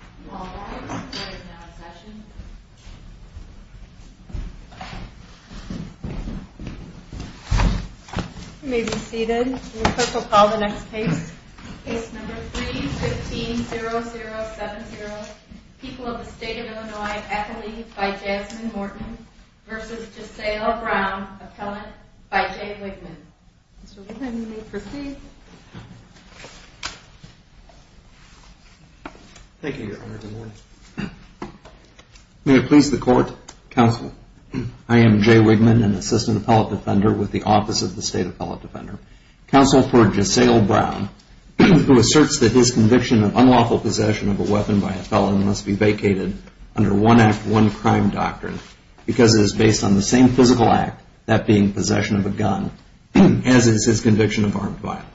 You may be seated. The clerk will call the next case. Case number 3-15-0070, People of the State of Illinois, Ethelene v. Jasmine Morton v. Giselle Brown, Appellant v. Jay Wigman. Mr. Wigman, you may proceed. Thank you, Your Honor. Good morning. May it please the Court. Counsel, I am Jay Wigman, an assistant appellate defender with the Office of the State Appellate Defender. Counsel for Giselle Brown, who asserts that his conviction of unlawful possession of a weapon by a felon must be vacated under one act, one crime doctrine, because it is based on the same physical act, that being possession of a gun, as is his conviction of armed violence.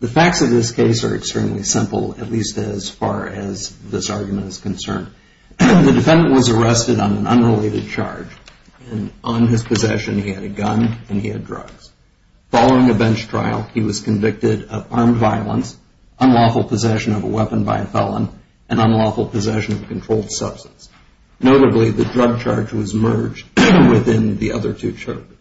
The facts of this case are extremely simple, at least as far as this argument is concerned. The defendant was arrested on an unrelated charge. On his possession, he had a gun and he had drugs. Following a bench trial, he was convicted of armed violence, unlawful possession of a weapon by a felon, and unlawful possession of a controlled substance. Notably, the drug charge was merged within the other two charges.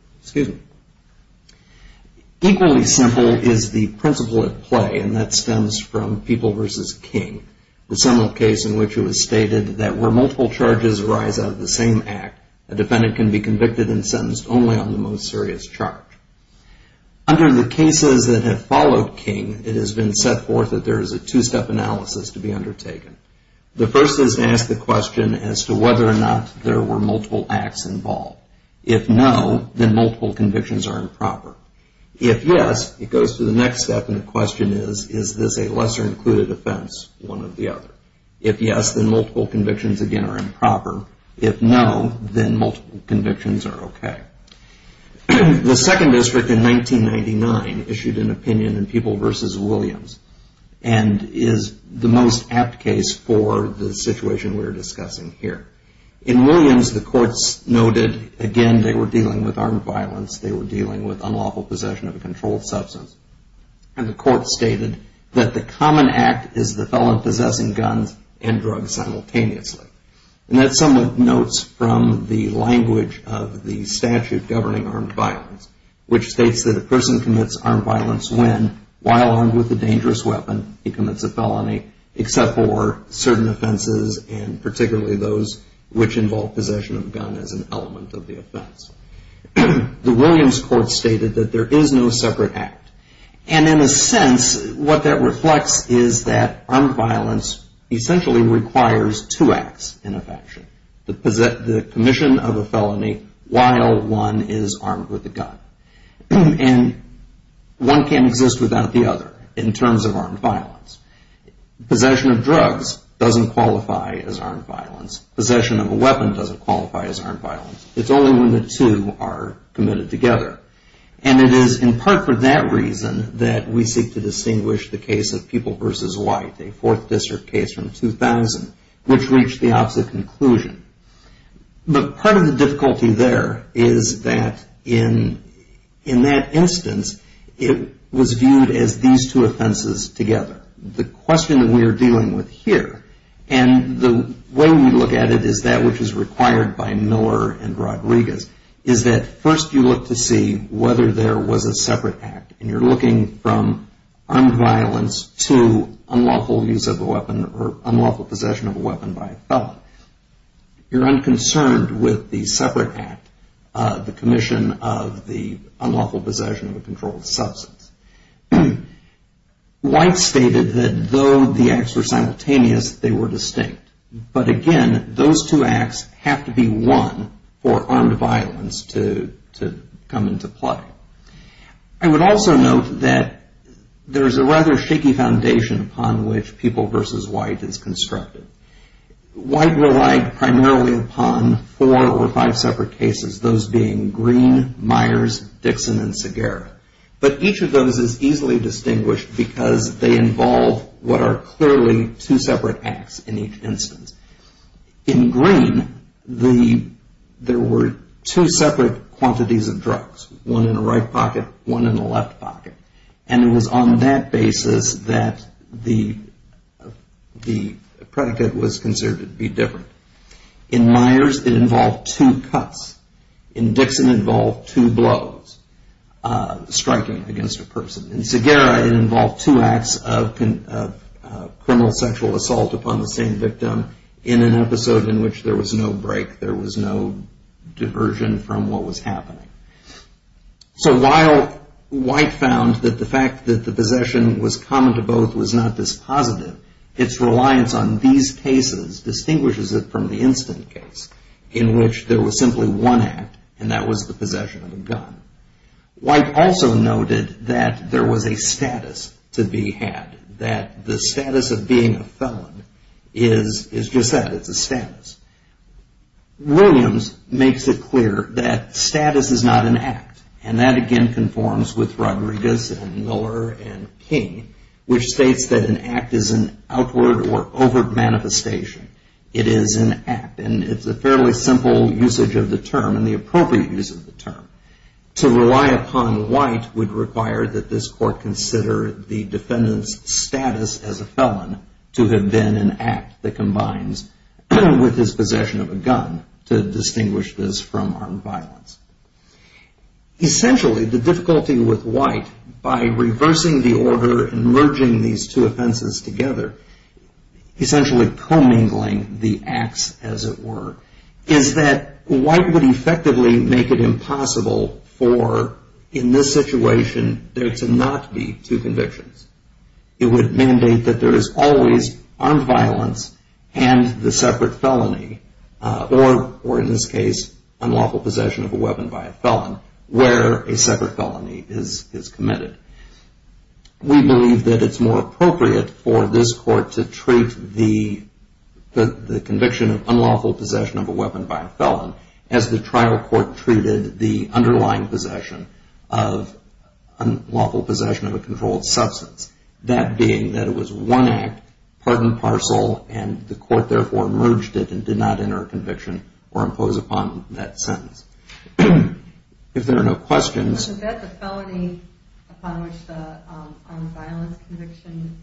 Equally simple is the principle at play, and that stems from People v. King, the seminal case in which it was stated that where multiple charges arise out of the same act, a defendant can be convicted and sentenced only on the most serious charge. Under the cases that have followed King, it has been set forth that there is a two-step analysis to be undertaken. The first is to ask the question as to whether or not there were multiple acts involved. If no, then multiple convictions are improper. If yes, it goes to the next step, and the question is, is this a lesser-included offense, one or the other? If yes, then multiple convictions again are improper. If no, then multiple convictions are okay. The second district in 1999 issued an opinion in People v. Williams, and is the most apt case for the situation we are discussing here. In Williams, the courts noted, again, they were dealing with armed violence, they were dealing with unlawful possession of a controlled substance, and the court stated that the common act is the felon possessing guns and drugs simultaneously. And that somewhat notes from the language of the statute governing armed violence, which states that a person commits armed violence when, while armed with a dangerous weapon, he commits a felony, except for certain offenses, and particularly those which involve possession of a gun as an element of the offense. The Williams court stated that there is no separate act. And in a sense, what that reflects is that armed violence essentially requires two acts in a faction, the commission of a felony while one is armed with a gun. And one can't exist without the other in terms of armed violence. Possession of drugs doesn't qualify as armed violence. Possession of a weapon doesn't qualify as armed violence. It's only when the two are committed together. And it is in part for that reason that we seek to distinguish the case of People v. White, a Fourth District case from 2000, which reached the opposite conclusion. But part of the difficulty there is that in that instance, it was viewed as these two offenses together. The question that we are dealing with here, and the way we look at it is that which is required by Miller and Rodriguez, is that first you look to see whether there was a separate act. And you're looking from armed violence to unlawful use of a weapon or unlawful possession of a weapon by a felon. You're unconcerned with the separate act, the commission of the unlawful possession of a controlled substance. White stated that though the acts were simultaneous, they were distinct. But again, those two acts have to be one for armed violence to come into play. I would also note that there is a rather shaky foundation upon which People v. White is constructed. White relied primarily upon four or five separate cases, those being Green, Myers, Dixon, and Segarra. But each of those is easily distinguished because they involve what are clearly two separate acts in each instance. In Green, there were two separate quantities of drugs, one in the right pocket, one in the left pocket. And it was on that basis that the predicate was considered to be different. In Myers, it involved two cuts. In Dixon, it involved two blows, striking against a person. In Segarra, it involved two acts of criminal sexual assault upon the same victim in an episode in which there was no break, there was no diversion from what was happening. So while White found that the fact that the possession was common to both was not this positive, its reliance on these cases distinguishes it from the instant case in which there was simply one act, and that was the possession of a gun. White also noted that there was a status to be had, that the status of being a felon is just that, it's a status. Williams makes it clear that status is not an act. And that again conforms with Rodriguez and Miller and King, which states that an act is an outward or overt manifestation. It is an act. And it's a fairly simple usage of the term and the appropriate use of the term. To rely upon White would require that this court consider the defendant's status as a felon to have been an act that combines with his possession of a gun to distinguish this from armed violence. Essentially, the difficulty with White, by reversing the order and merging these two offenses together, essentially commingling the acts as it were, is that White would effectively make it impossible for, in this situation, there to not be two convictions. It would mandate that there is always armed violence and the separate felony, or in this case, unlawful possession of a weapon by a felon, where a separate felony is committed. We believe that it's more appropriate for this court to treat the conviction of unlawful possession of a weapon by a felon as the trial court treated the underlying possession of unlawful possession of a controlled substance. That being that it was one act, part and parcel, and the court therefore merged it and did not enter a conviction or impose upon that sentence. If there are no questions... Was that the felony upon which the armed violence conviction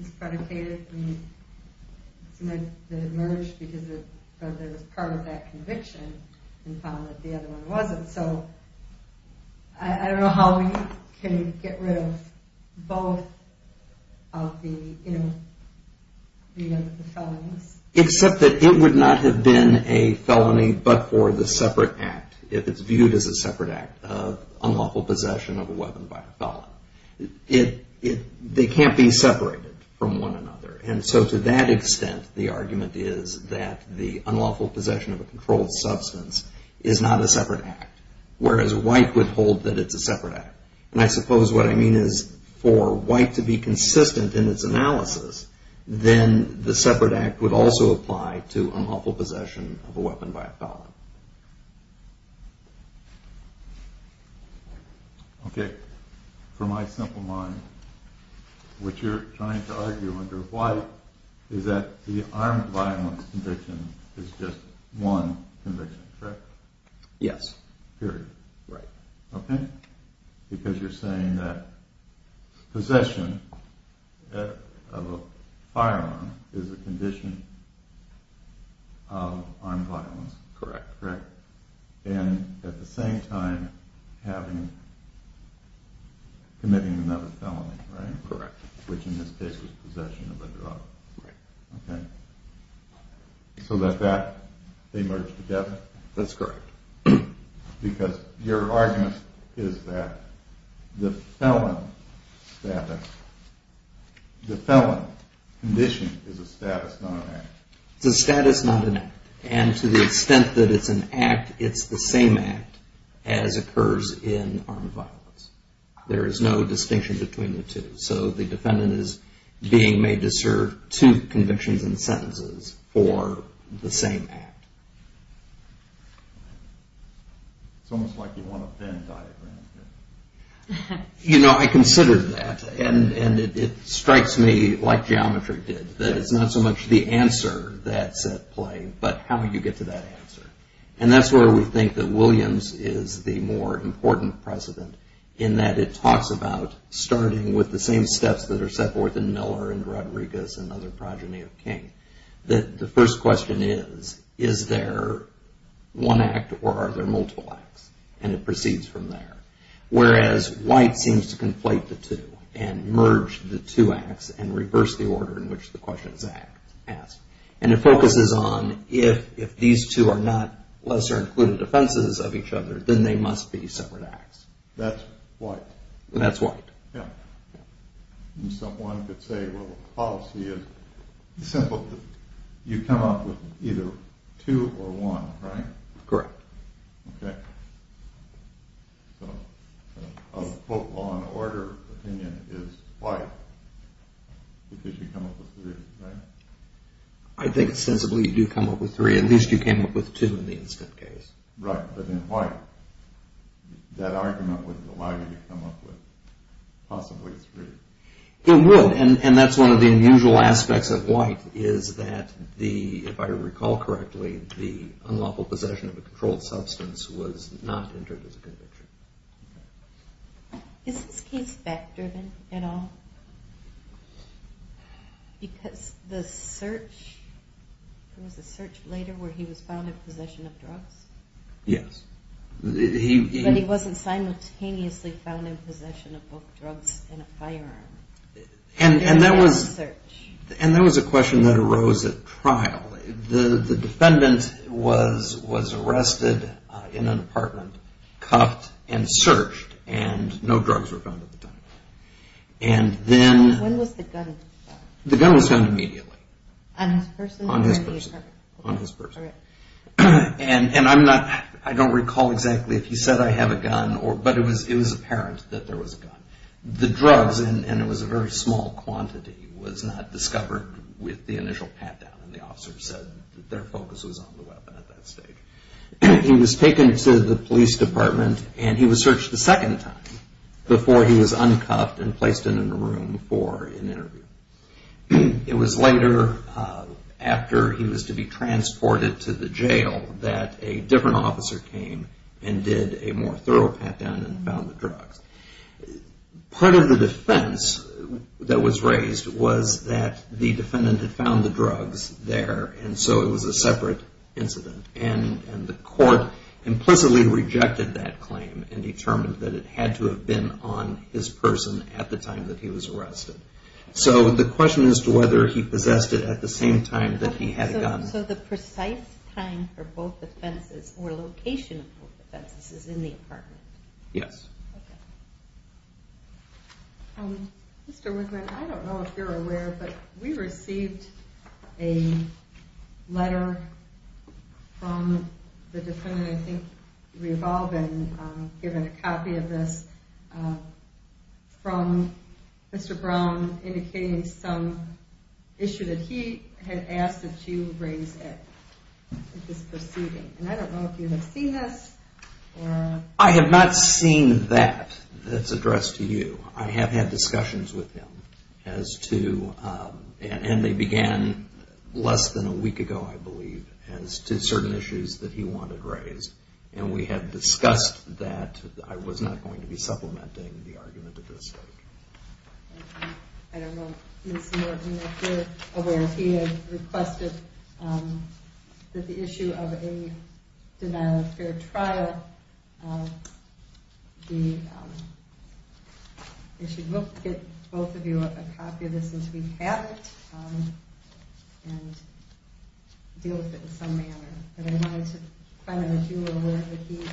is predicated? It emerged because it was part of that conviction and found that the other one wasn't. So, I don't know how we can get rid of both of the felonies. Except that it would not have been a felony but for the separate act, if it's viewed as a separate act, of unlawful possession of a weapon by a felon. They can't be separated from one another. And so, to that extent, the argument is that the unlawful possession of a controlled substance is not a separate act, whereas White would hold that it's a separate act. And I suppose what I mean is for White to be consistent in its analysis, then the separate act would also apply to unlawful possession of a weapon by a felon. Okay. From my simple mind, what you're trying to argue under White is that the armed violence conviction is just one conviction, correct? Yes. Period. Right. Okay. Because you're saying that possession of a firearm is a condition of armed violence. Correct. Correct. And at the same time, committing another felony, right? Correct. Which in this case was possession of a drug. Right. Okay. So that they merge together? That's correct. Because your argument is that the felon condition is a status, not an act. It's a status, not an act. And to the extent that it's an act, it's the same act as occurs in armed violence. There is no distinction between the two. So the defendant is being made to serve two convictions and sentences for the same act. It's almost like you want a thin diagram here. You know, I considered that, and it strikes me, like geometry did, that it's not so much the answer that's at play, but how do you get to that answer? And that's where we think that Williams is the more important precedent, in that it talks about starting with the same steps that are set forth in Miller and Rodriguez and other progeny of King. The first question is, is there one act or are there multiple acts? And it proceeds from there. Whereas White seems to conflate the two and merge the two acts and reverse the order in which the question is asked. And it focuses on if these two are not lesser included offenses of each other, then they must be separate acts. That's White. That's White. Yeah. And someone could say, well, the policy is simple. You come up with either two or one, right? Correct. Okay. So a vote on order opinion is White because you come up with three, right? I think it's sensible you do come up with three. At least you came up with two in the instant case. Right. But in White, that argument would allow you to come up with possibly three. It would, and that's one of the unusual aspects of White, is that the, if I recall correctly, the unlawful possession of a controlled substance was not entered as a conviction. Is this case fact-driven at all? Because the search, there was a search later where he was found in possession of drugs. Yes. But he wasn't simultaneously found in possession of both drugs and a firearm. And that was a question that arose at trial. The defendant was arrested in an apartment, cuffed, and searched, and no drugs were found at the time. When was the gun found? The gun was found immediately. On his person or in the apartment? On his person. On his person. All right. And I don't recall exactly if he said, I have a gun, but it was apparent that there was a gun. The drugs, and it was a very small quantity, was not discovered with the initial pat-down, and the officer said that their focus was on the weapon at that stage. He was taken to the police department, and he was searched a second time before he was uncuffed and placed in a room for an interview. It was later, after he was to be transported to the jail, that a different officer came and did a more thorough pat-down and found the drugs. Part of the defense that was raised was that the defendant had found the drugs there, and so it was a separate incident. And the court implicitly rejected that claim and determined that it had to have been on his person at the time that he was arrested. So the question is whether he possessed it at the same time that he had a gun. So the precise time for both offenses or location of both offenses is in the apartment? Yes. Okay. Mr. Wigman, I don't know if you're aware, but we received a letter from the defendant, I think, Revolvin, giving a copy of this from Mr. Brown, indicating some issue that he had asked that you raise at this proceeding. And I don't know if you have seen this. I have not seen that that's addressed to you. I have had discussions with him as to, and they began less than a week ago, I believe, as to certain issues that he wanted raised. And we had discussed that. I was not going to be supplementing the argument at this stage. I don't know if Ms. Norton, if you're aware, he had requested that the issue of a denial of fair trial be issued. We'll get both of you a copy of this since we have it and deal with it in some manner. But I wanted to find out if you were aware that he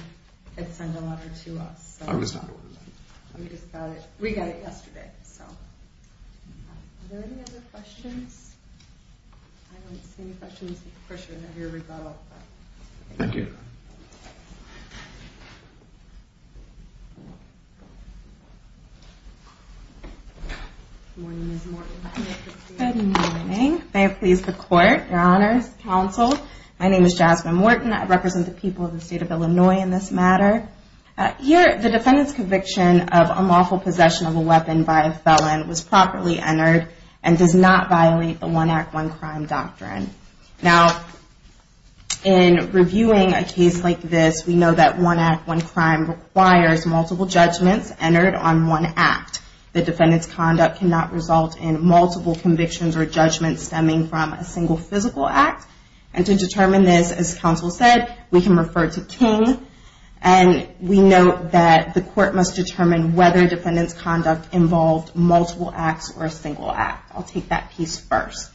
had sent a letter to us. I was not aware of that. We got it yesterday. Are there any other questions? I don't see any questions. Of course, you're going to have your rebuttal. Thank you. Good morning, Ms. Norton. Good morning. May it please the Court, Your Honors, Counsel. My name is Jasmine Norton. I represent the people of the state of Illinois in this matter. Here, the defendant's conviction of unlawful possession of a weapon by a felon was properly entered and does not violate the one act, one crime doctrine. Now, in reviewing a case like this, we know that one act, one crime requires multiple judgments entered on one act. The defendant's conduct cannot result in multiple convictions or judgments stemming from a single physical act. And to determine this, as counsel said, we can refer to King. And we know that the court must determine whether the defendant's conduct involved multiple acts or a single act. I'll take that piece first.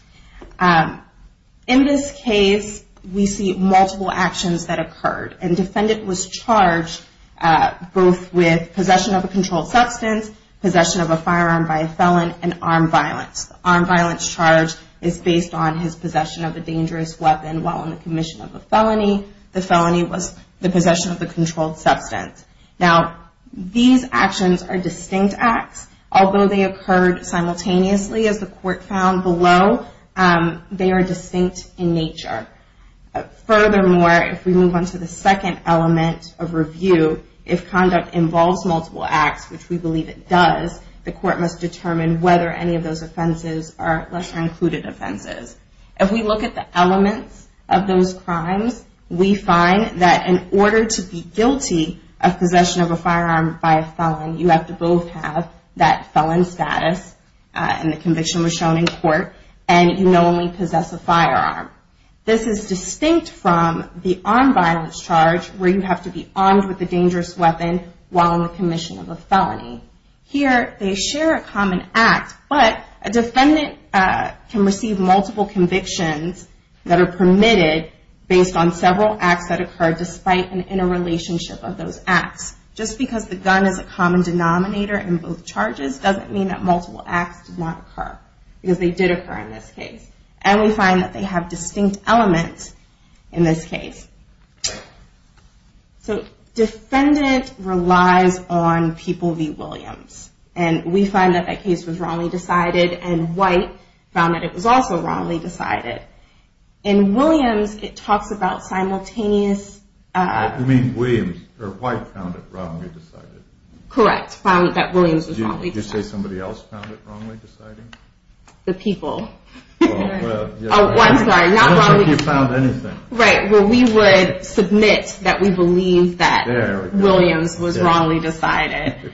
In this case, we see multiple actions that occurred. And the defendant was charged both with possession of a controlled substance, possession of a firearm by a felon, and armed violence. The armed violence charge is based on his possession of a dangerous weapon while on the commission of a felony. The felony was the possession of a controlled substance. Now, these actions are distinct acts. Although they occurred simultaneously, as the court found below, they are distinct in nature. Furthermore, if we move on to the second element of review, if conduct involves multiple acts, which we believe it does, the court must determine whether any of those offenses are lesser included offenses. If we look at the elements of those crimes, we find that in order to be guilty of possession of a firearm by a felon, you have to both have that felon status, and the conviction was shown in court, and you know only possess a firearm. This is distinct from the armed violence charge, where you have to be armed with a dangerous weapon while on the commission of a felony. Here, they share a common act, but a defendant can receive multiple convictions that are permitted based on several acts that occurred despite an interrelationship of those acts. Just because the gun is a common denominator in both charges doesn't mean that multiple acts did not occur, because they did occur in this case, and we find that they have distinct elements in this case. Defendant relies on People v. Williams, and we find that that case was wrongly decided, and White found that it was also wrongly decided. In Williams, it talks about simultaneous... You mean White found it wrongly decided? Correct, found that Williams was wrongly decided. Did you say somebody else found it wrongly decided? The People. Oh, I'm sorry, not wrongly decided. I don't think you found anything. Right, well, we would submit that we believe that Williams was wrongly decided.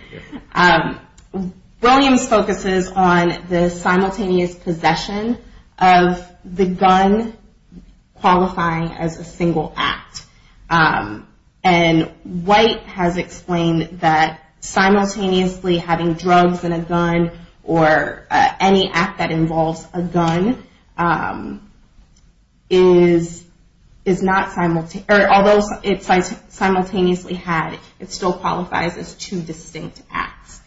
Williams focuses on the simultaneous possession of the gun qualifying as a single act, and White has explained that simultaneously having drugs and a gun, or any act that involves a gun, is not simultaneously... Although it's simultaneously had, it still qualifies as two distinct acts.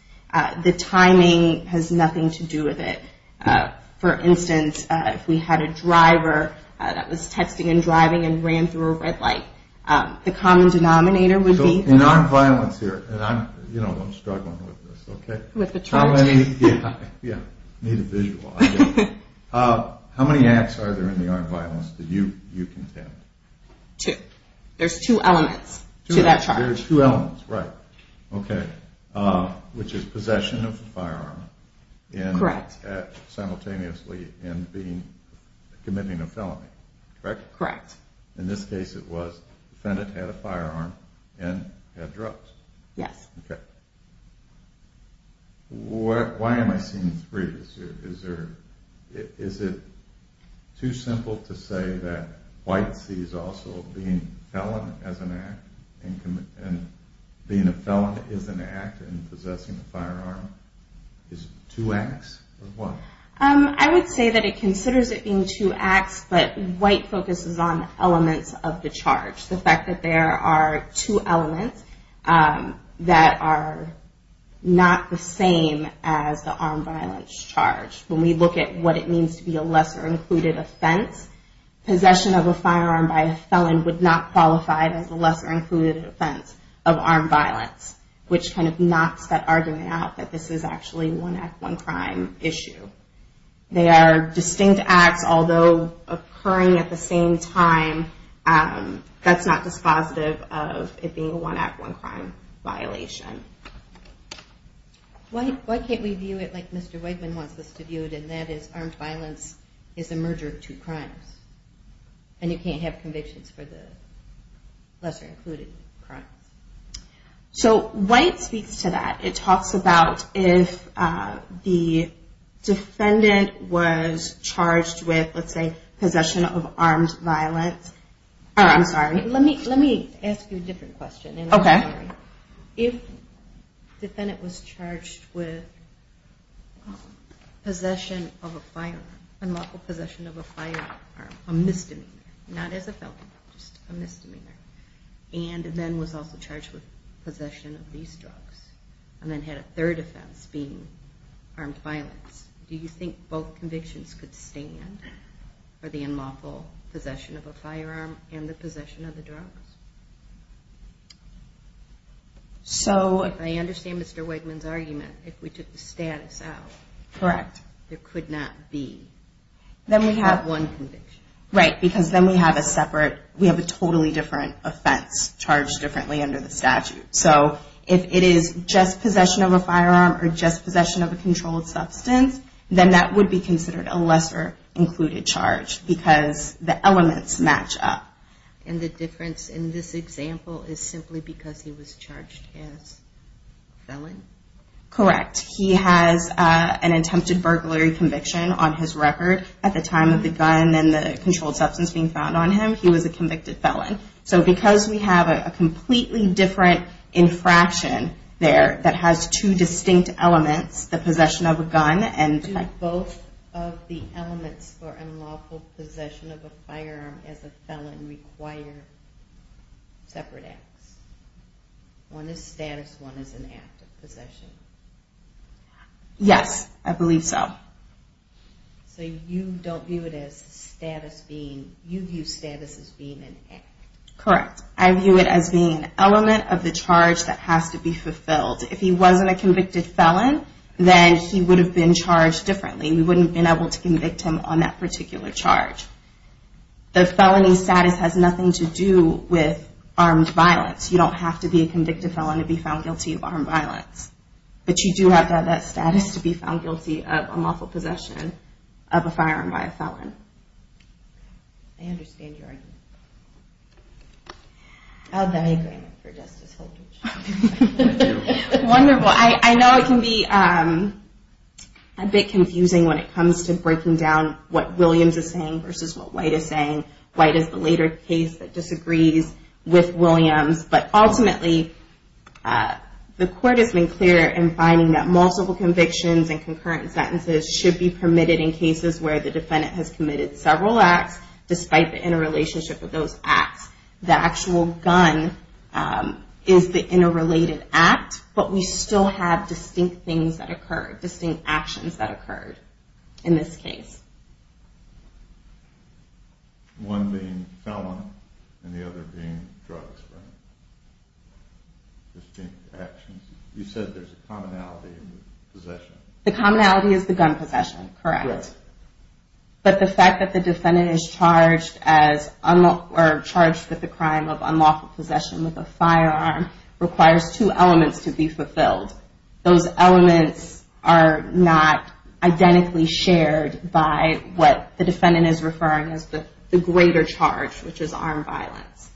The timing has nothing to do with it. For instance, if we had a driver that was texting and driving and ran through a red light, the common denominator would be... So, nonviolence here, and I'm struggling with this, okay? With the truth? Yeah, I need a visual. How many acts are there in the nonviolence that you contend? Two. There's two elements to that charge. There's two elements, right. Okay, which is possession of a firearm... Correct. Simultaneously in committing a felony, correct? Correct. In this case, it was defendant had a firearm and had drugs. Yes. Okay. Why am I seeing three? Is it too simple to say that White sees also being a felon as an act and being a felon is an act in possessing a firearm? Is it two acts, or what? I would say that it considers it being two acts, but White focuses on elements of the charge. The fact that there are two elements that are not the same as the armed violence charge. When we look at what it means to be a lesser included offense, possession of a firearm by a felon would not qualify as a lesser included offense of armed violence, which kind of knocks that argument out that this is actually one act, one crime issue. They are distinct acts, although occurring at the same time, that's not dispositive of it being a one act, one crime violation. Why can't we view it like Mr. Wegman wants us to view it, and that is armed violence is a merger of two crimes, and you can't have convictions for the lesser included crimes? So White speaks to that. It talks about if the defendant was charged with, let's say, possession of armed violence. I'm sorry. Let me ask you a different question. Okay. If the defendant was charged with possession of a firearm, unlawful possession of a firearm, a misdemeanor, not as a felon, just a misdemeanor, and then was also charged with possession of these drugs, and then had a third offense being armed violence, do you think both convictions could stand for the unlawful possession of a firearm and the possession of the drugs? So if I understand Mr. Wegman's argument, if we took the status out, there could not be. Then we have one conviction. Right, because then we have a separate, we have a totally different offense charged differently under the statute. So if it is just possession of a firearm, or just possession of a controlled substance, then that would be considered a lesser included charge, because the elements match up. And the difference in this example is simply because he was charged as felon? Correct. He has an attempted burglary conviction on his record. At the time of the gun and the controlled substance being found on him, he was a convicted felon. So because we have a completely different infraction there that has two distinct elements, the possession of a gun and... Do both of the elements for unlawful possession of a firearm as a felon require separate acts? One is status, one is an act of possession. Yes, I believe so. So you don't view it as status being, you view status as being an act. Correct. I view it as being an element of the charge that has to be fulfilled. If he wasn't a convicted felon, then he would have been charged differently. We wouldn't have been able to convict him on that particular charge. The felony status has nothing to do with armed violence. You don't have to be a convicted felon to be found guilty of armed violence. But you do have to have that status to be found guilty of unlawful possession of a firearm by a felon. I understand your argument. I have the same argument for Justice Holtridge. Wonderful. I know it can be a bit confusing when it comes to breaking down what Williams is saying versus what White is saying. White is the later case that disagrees with Williams. But ultimately, the court has been clear in finding that multiple convictions and concurrent sentences should be permitted in cases where the defendant has committed several acts, despite the interrelationship of those acts. The actual gun is the interrelated act, but we still have distinct things that occurred, distinct actions that occurred in this case. One being felon and the other being drugs. Distinct actions. You said there's a commonality in the possession. The commonality is the gun possession. Correct. But the fact that the defendant is charged with the crime of unlawful possession with a firearm requires two elements to be fulfilled. Those elements are not identically shared by what the defendant is referring to as the greater charge, which is armed violence.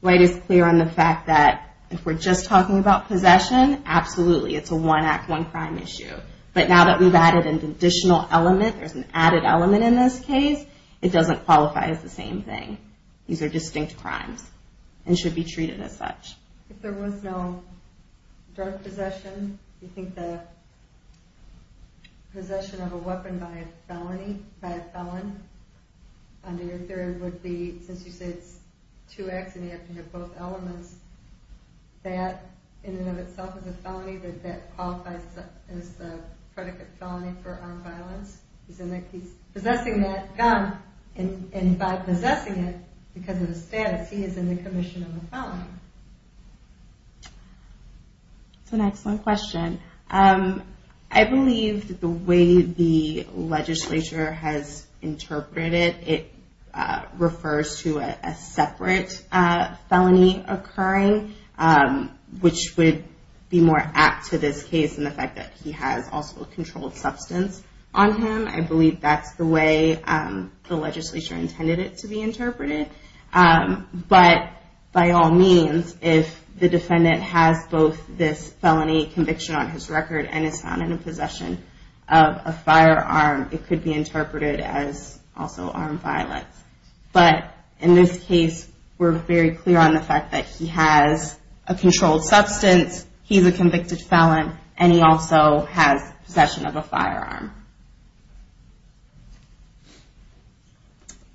White is clear on the fact that if we're just talking about possession, absolutely, it's a one-act, one-crime issue. But now that we've added an additional element, there's an added element in this case, it doesn't qualify as the same thing. These are distinct crimes and should be treated as such. If there was no drug possession, do you think the possession of a weapon by a felon under your theory would be, since you say it's two acts and you have to have both elements, that in and of itself is a felony, that that qualifies as the predicate felony for armed violence? He's possessing that gun, and by possessing it, because of the status, he is in the commission of a felony. That's an excellent question. I believe that the way the legislature has interpreted it, refers to a separate felony occurring, which would be more apt to this case in the fact that he has also a controlled substance on him. I believe that's the way the legislature intended it to be interpreted. But by all means, if the defendant has both this felony conviction on his record and is found in possession of a firearm, it could be interpreted as also armed violence. But in this case, we're very clear on the fact that he has a controlled substance, he's a convicted felon, and he also has possession of a firearm.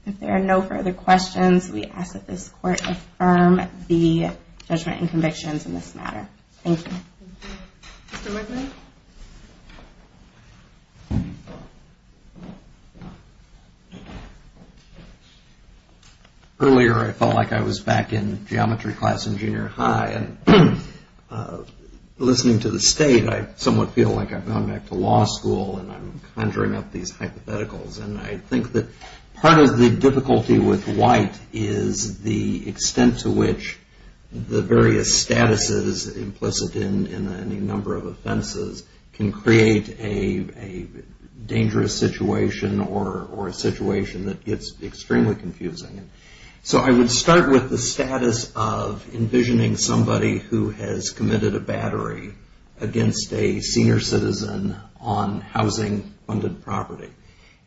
If there are no further questions, we ask that this Court affirm the judgment and convictions in this matter. Thank you. Mr. McMahon? Earlier, I felt like I was back in geometry class in junior high, and listening to the state, I somewhat feel like I've gone back to law school and I'm conjuring up these hypotheticals. And I think that part of the difficulty with White is the extent to which the various statuses implicit in any number of offenses can create a dangerous situation or a situation that gets extremely confusing. So I would start with the status of envisioning somebody who has committed a battery against a senior citizen on housing-funded property.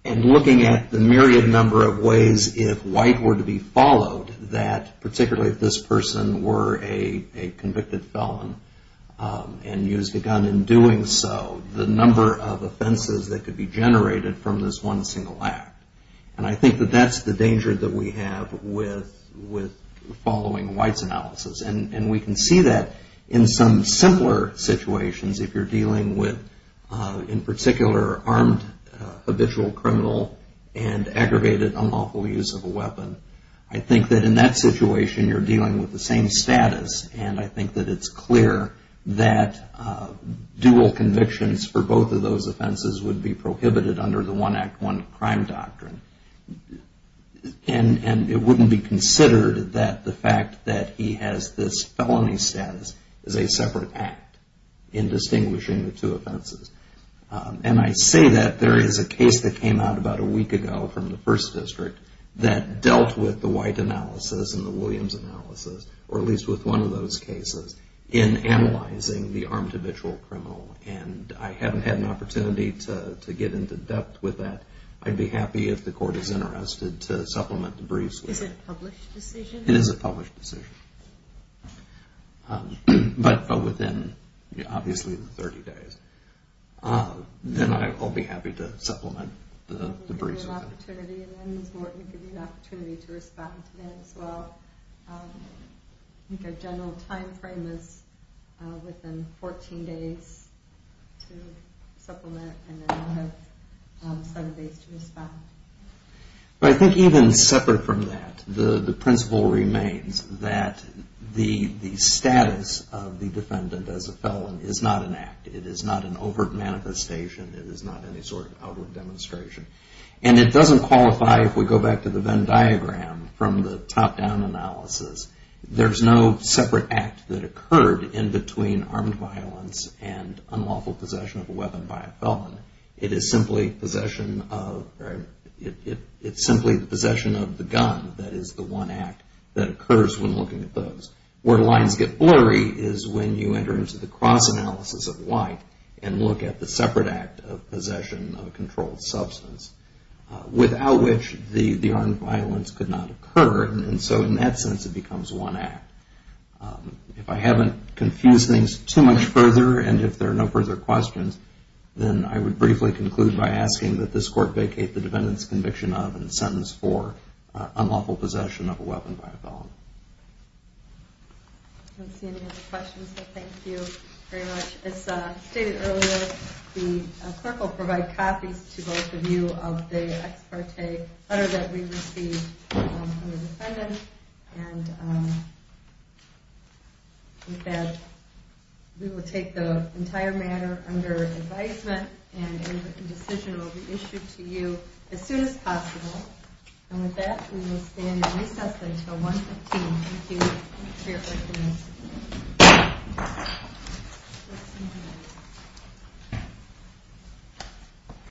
And looking at the myriad number of ways, if White were to be followed, that particularly if this person were a convicted felon and used a gun in doing so, the number of offenses that could be generated from this one single act. And I think that that's the danger that we have with following White's analysis. And we can see that in some simpler situations if you're dealing with, in particular, armed habitual criminal and aggravated unlawful use of a weapon. I think that in that situation you're dealing with the same status, and I think that it's clear that dual convictions for both of those offenses would be prohibited under the One Act, One Crime doctrine. And it wouldn't be considered that the fact that he has this felony status is a separate act in distinguishing the two offenses. And I say that there is a case that came out about a week ago from the First District that dealt with the White analysis and the Williams analysis, or at least with one of those cases, in analyzing the armed habitual criminal. And I haven't had an opportunity to get into depth with that. I'd be happy if the Court is interested to supplement the briefs with it. Is it a published decision? It is a published decision, but within, obviously, the 30 days. Then I'll be happy to supplement the briefs with it. That's an opportunity, and then the Court will give you the opportunity to respond to that as well. I think our general time frame is within 14 days to supplement, and then we'll have seven days to respond. I think even separate from that, the principle remains that the status of the defendant as a felon is not an act. It is not an overt manifestation. It is not any sort of outward demonstration. And it doesn't qualify, if we go back to the Venn diagram from the top-down analysis, there's no separate act that occurred in between armed violence and unlawful possession of a weapon by a felon. It is simply possession of the gun that is the one act that occurs when looking at those. Where lines get blurry is when you enter into the cross-analysis of White and look at the separate act of possession of a controlled substance, without which the armed violence could not occur. And so in that sense, it becomes one act. If I haven't confused things too much further, and if there are no further questions, then I would briefly conclude by asking that this Court vacate the defendant's conviction of and sentence for unlawful possession of a weapon by a felon. I don't see any other questions, so thank you very much. As stated earlier, the clerk will provide copies to both of you of the ex parte letter that we received from the defendant. And with that, we will take the entire matter under advisement, and a decision will be issued to you as soon as possible. And with that, we will stand in recess until 1.15. Thank you.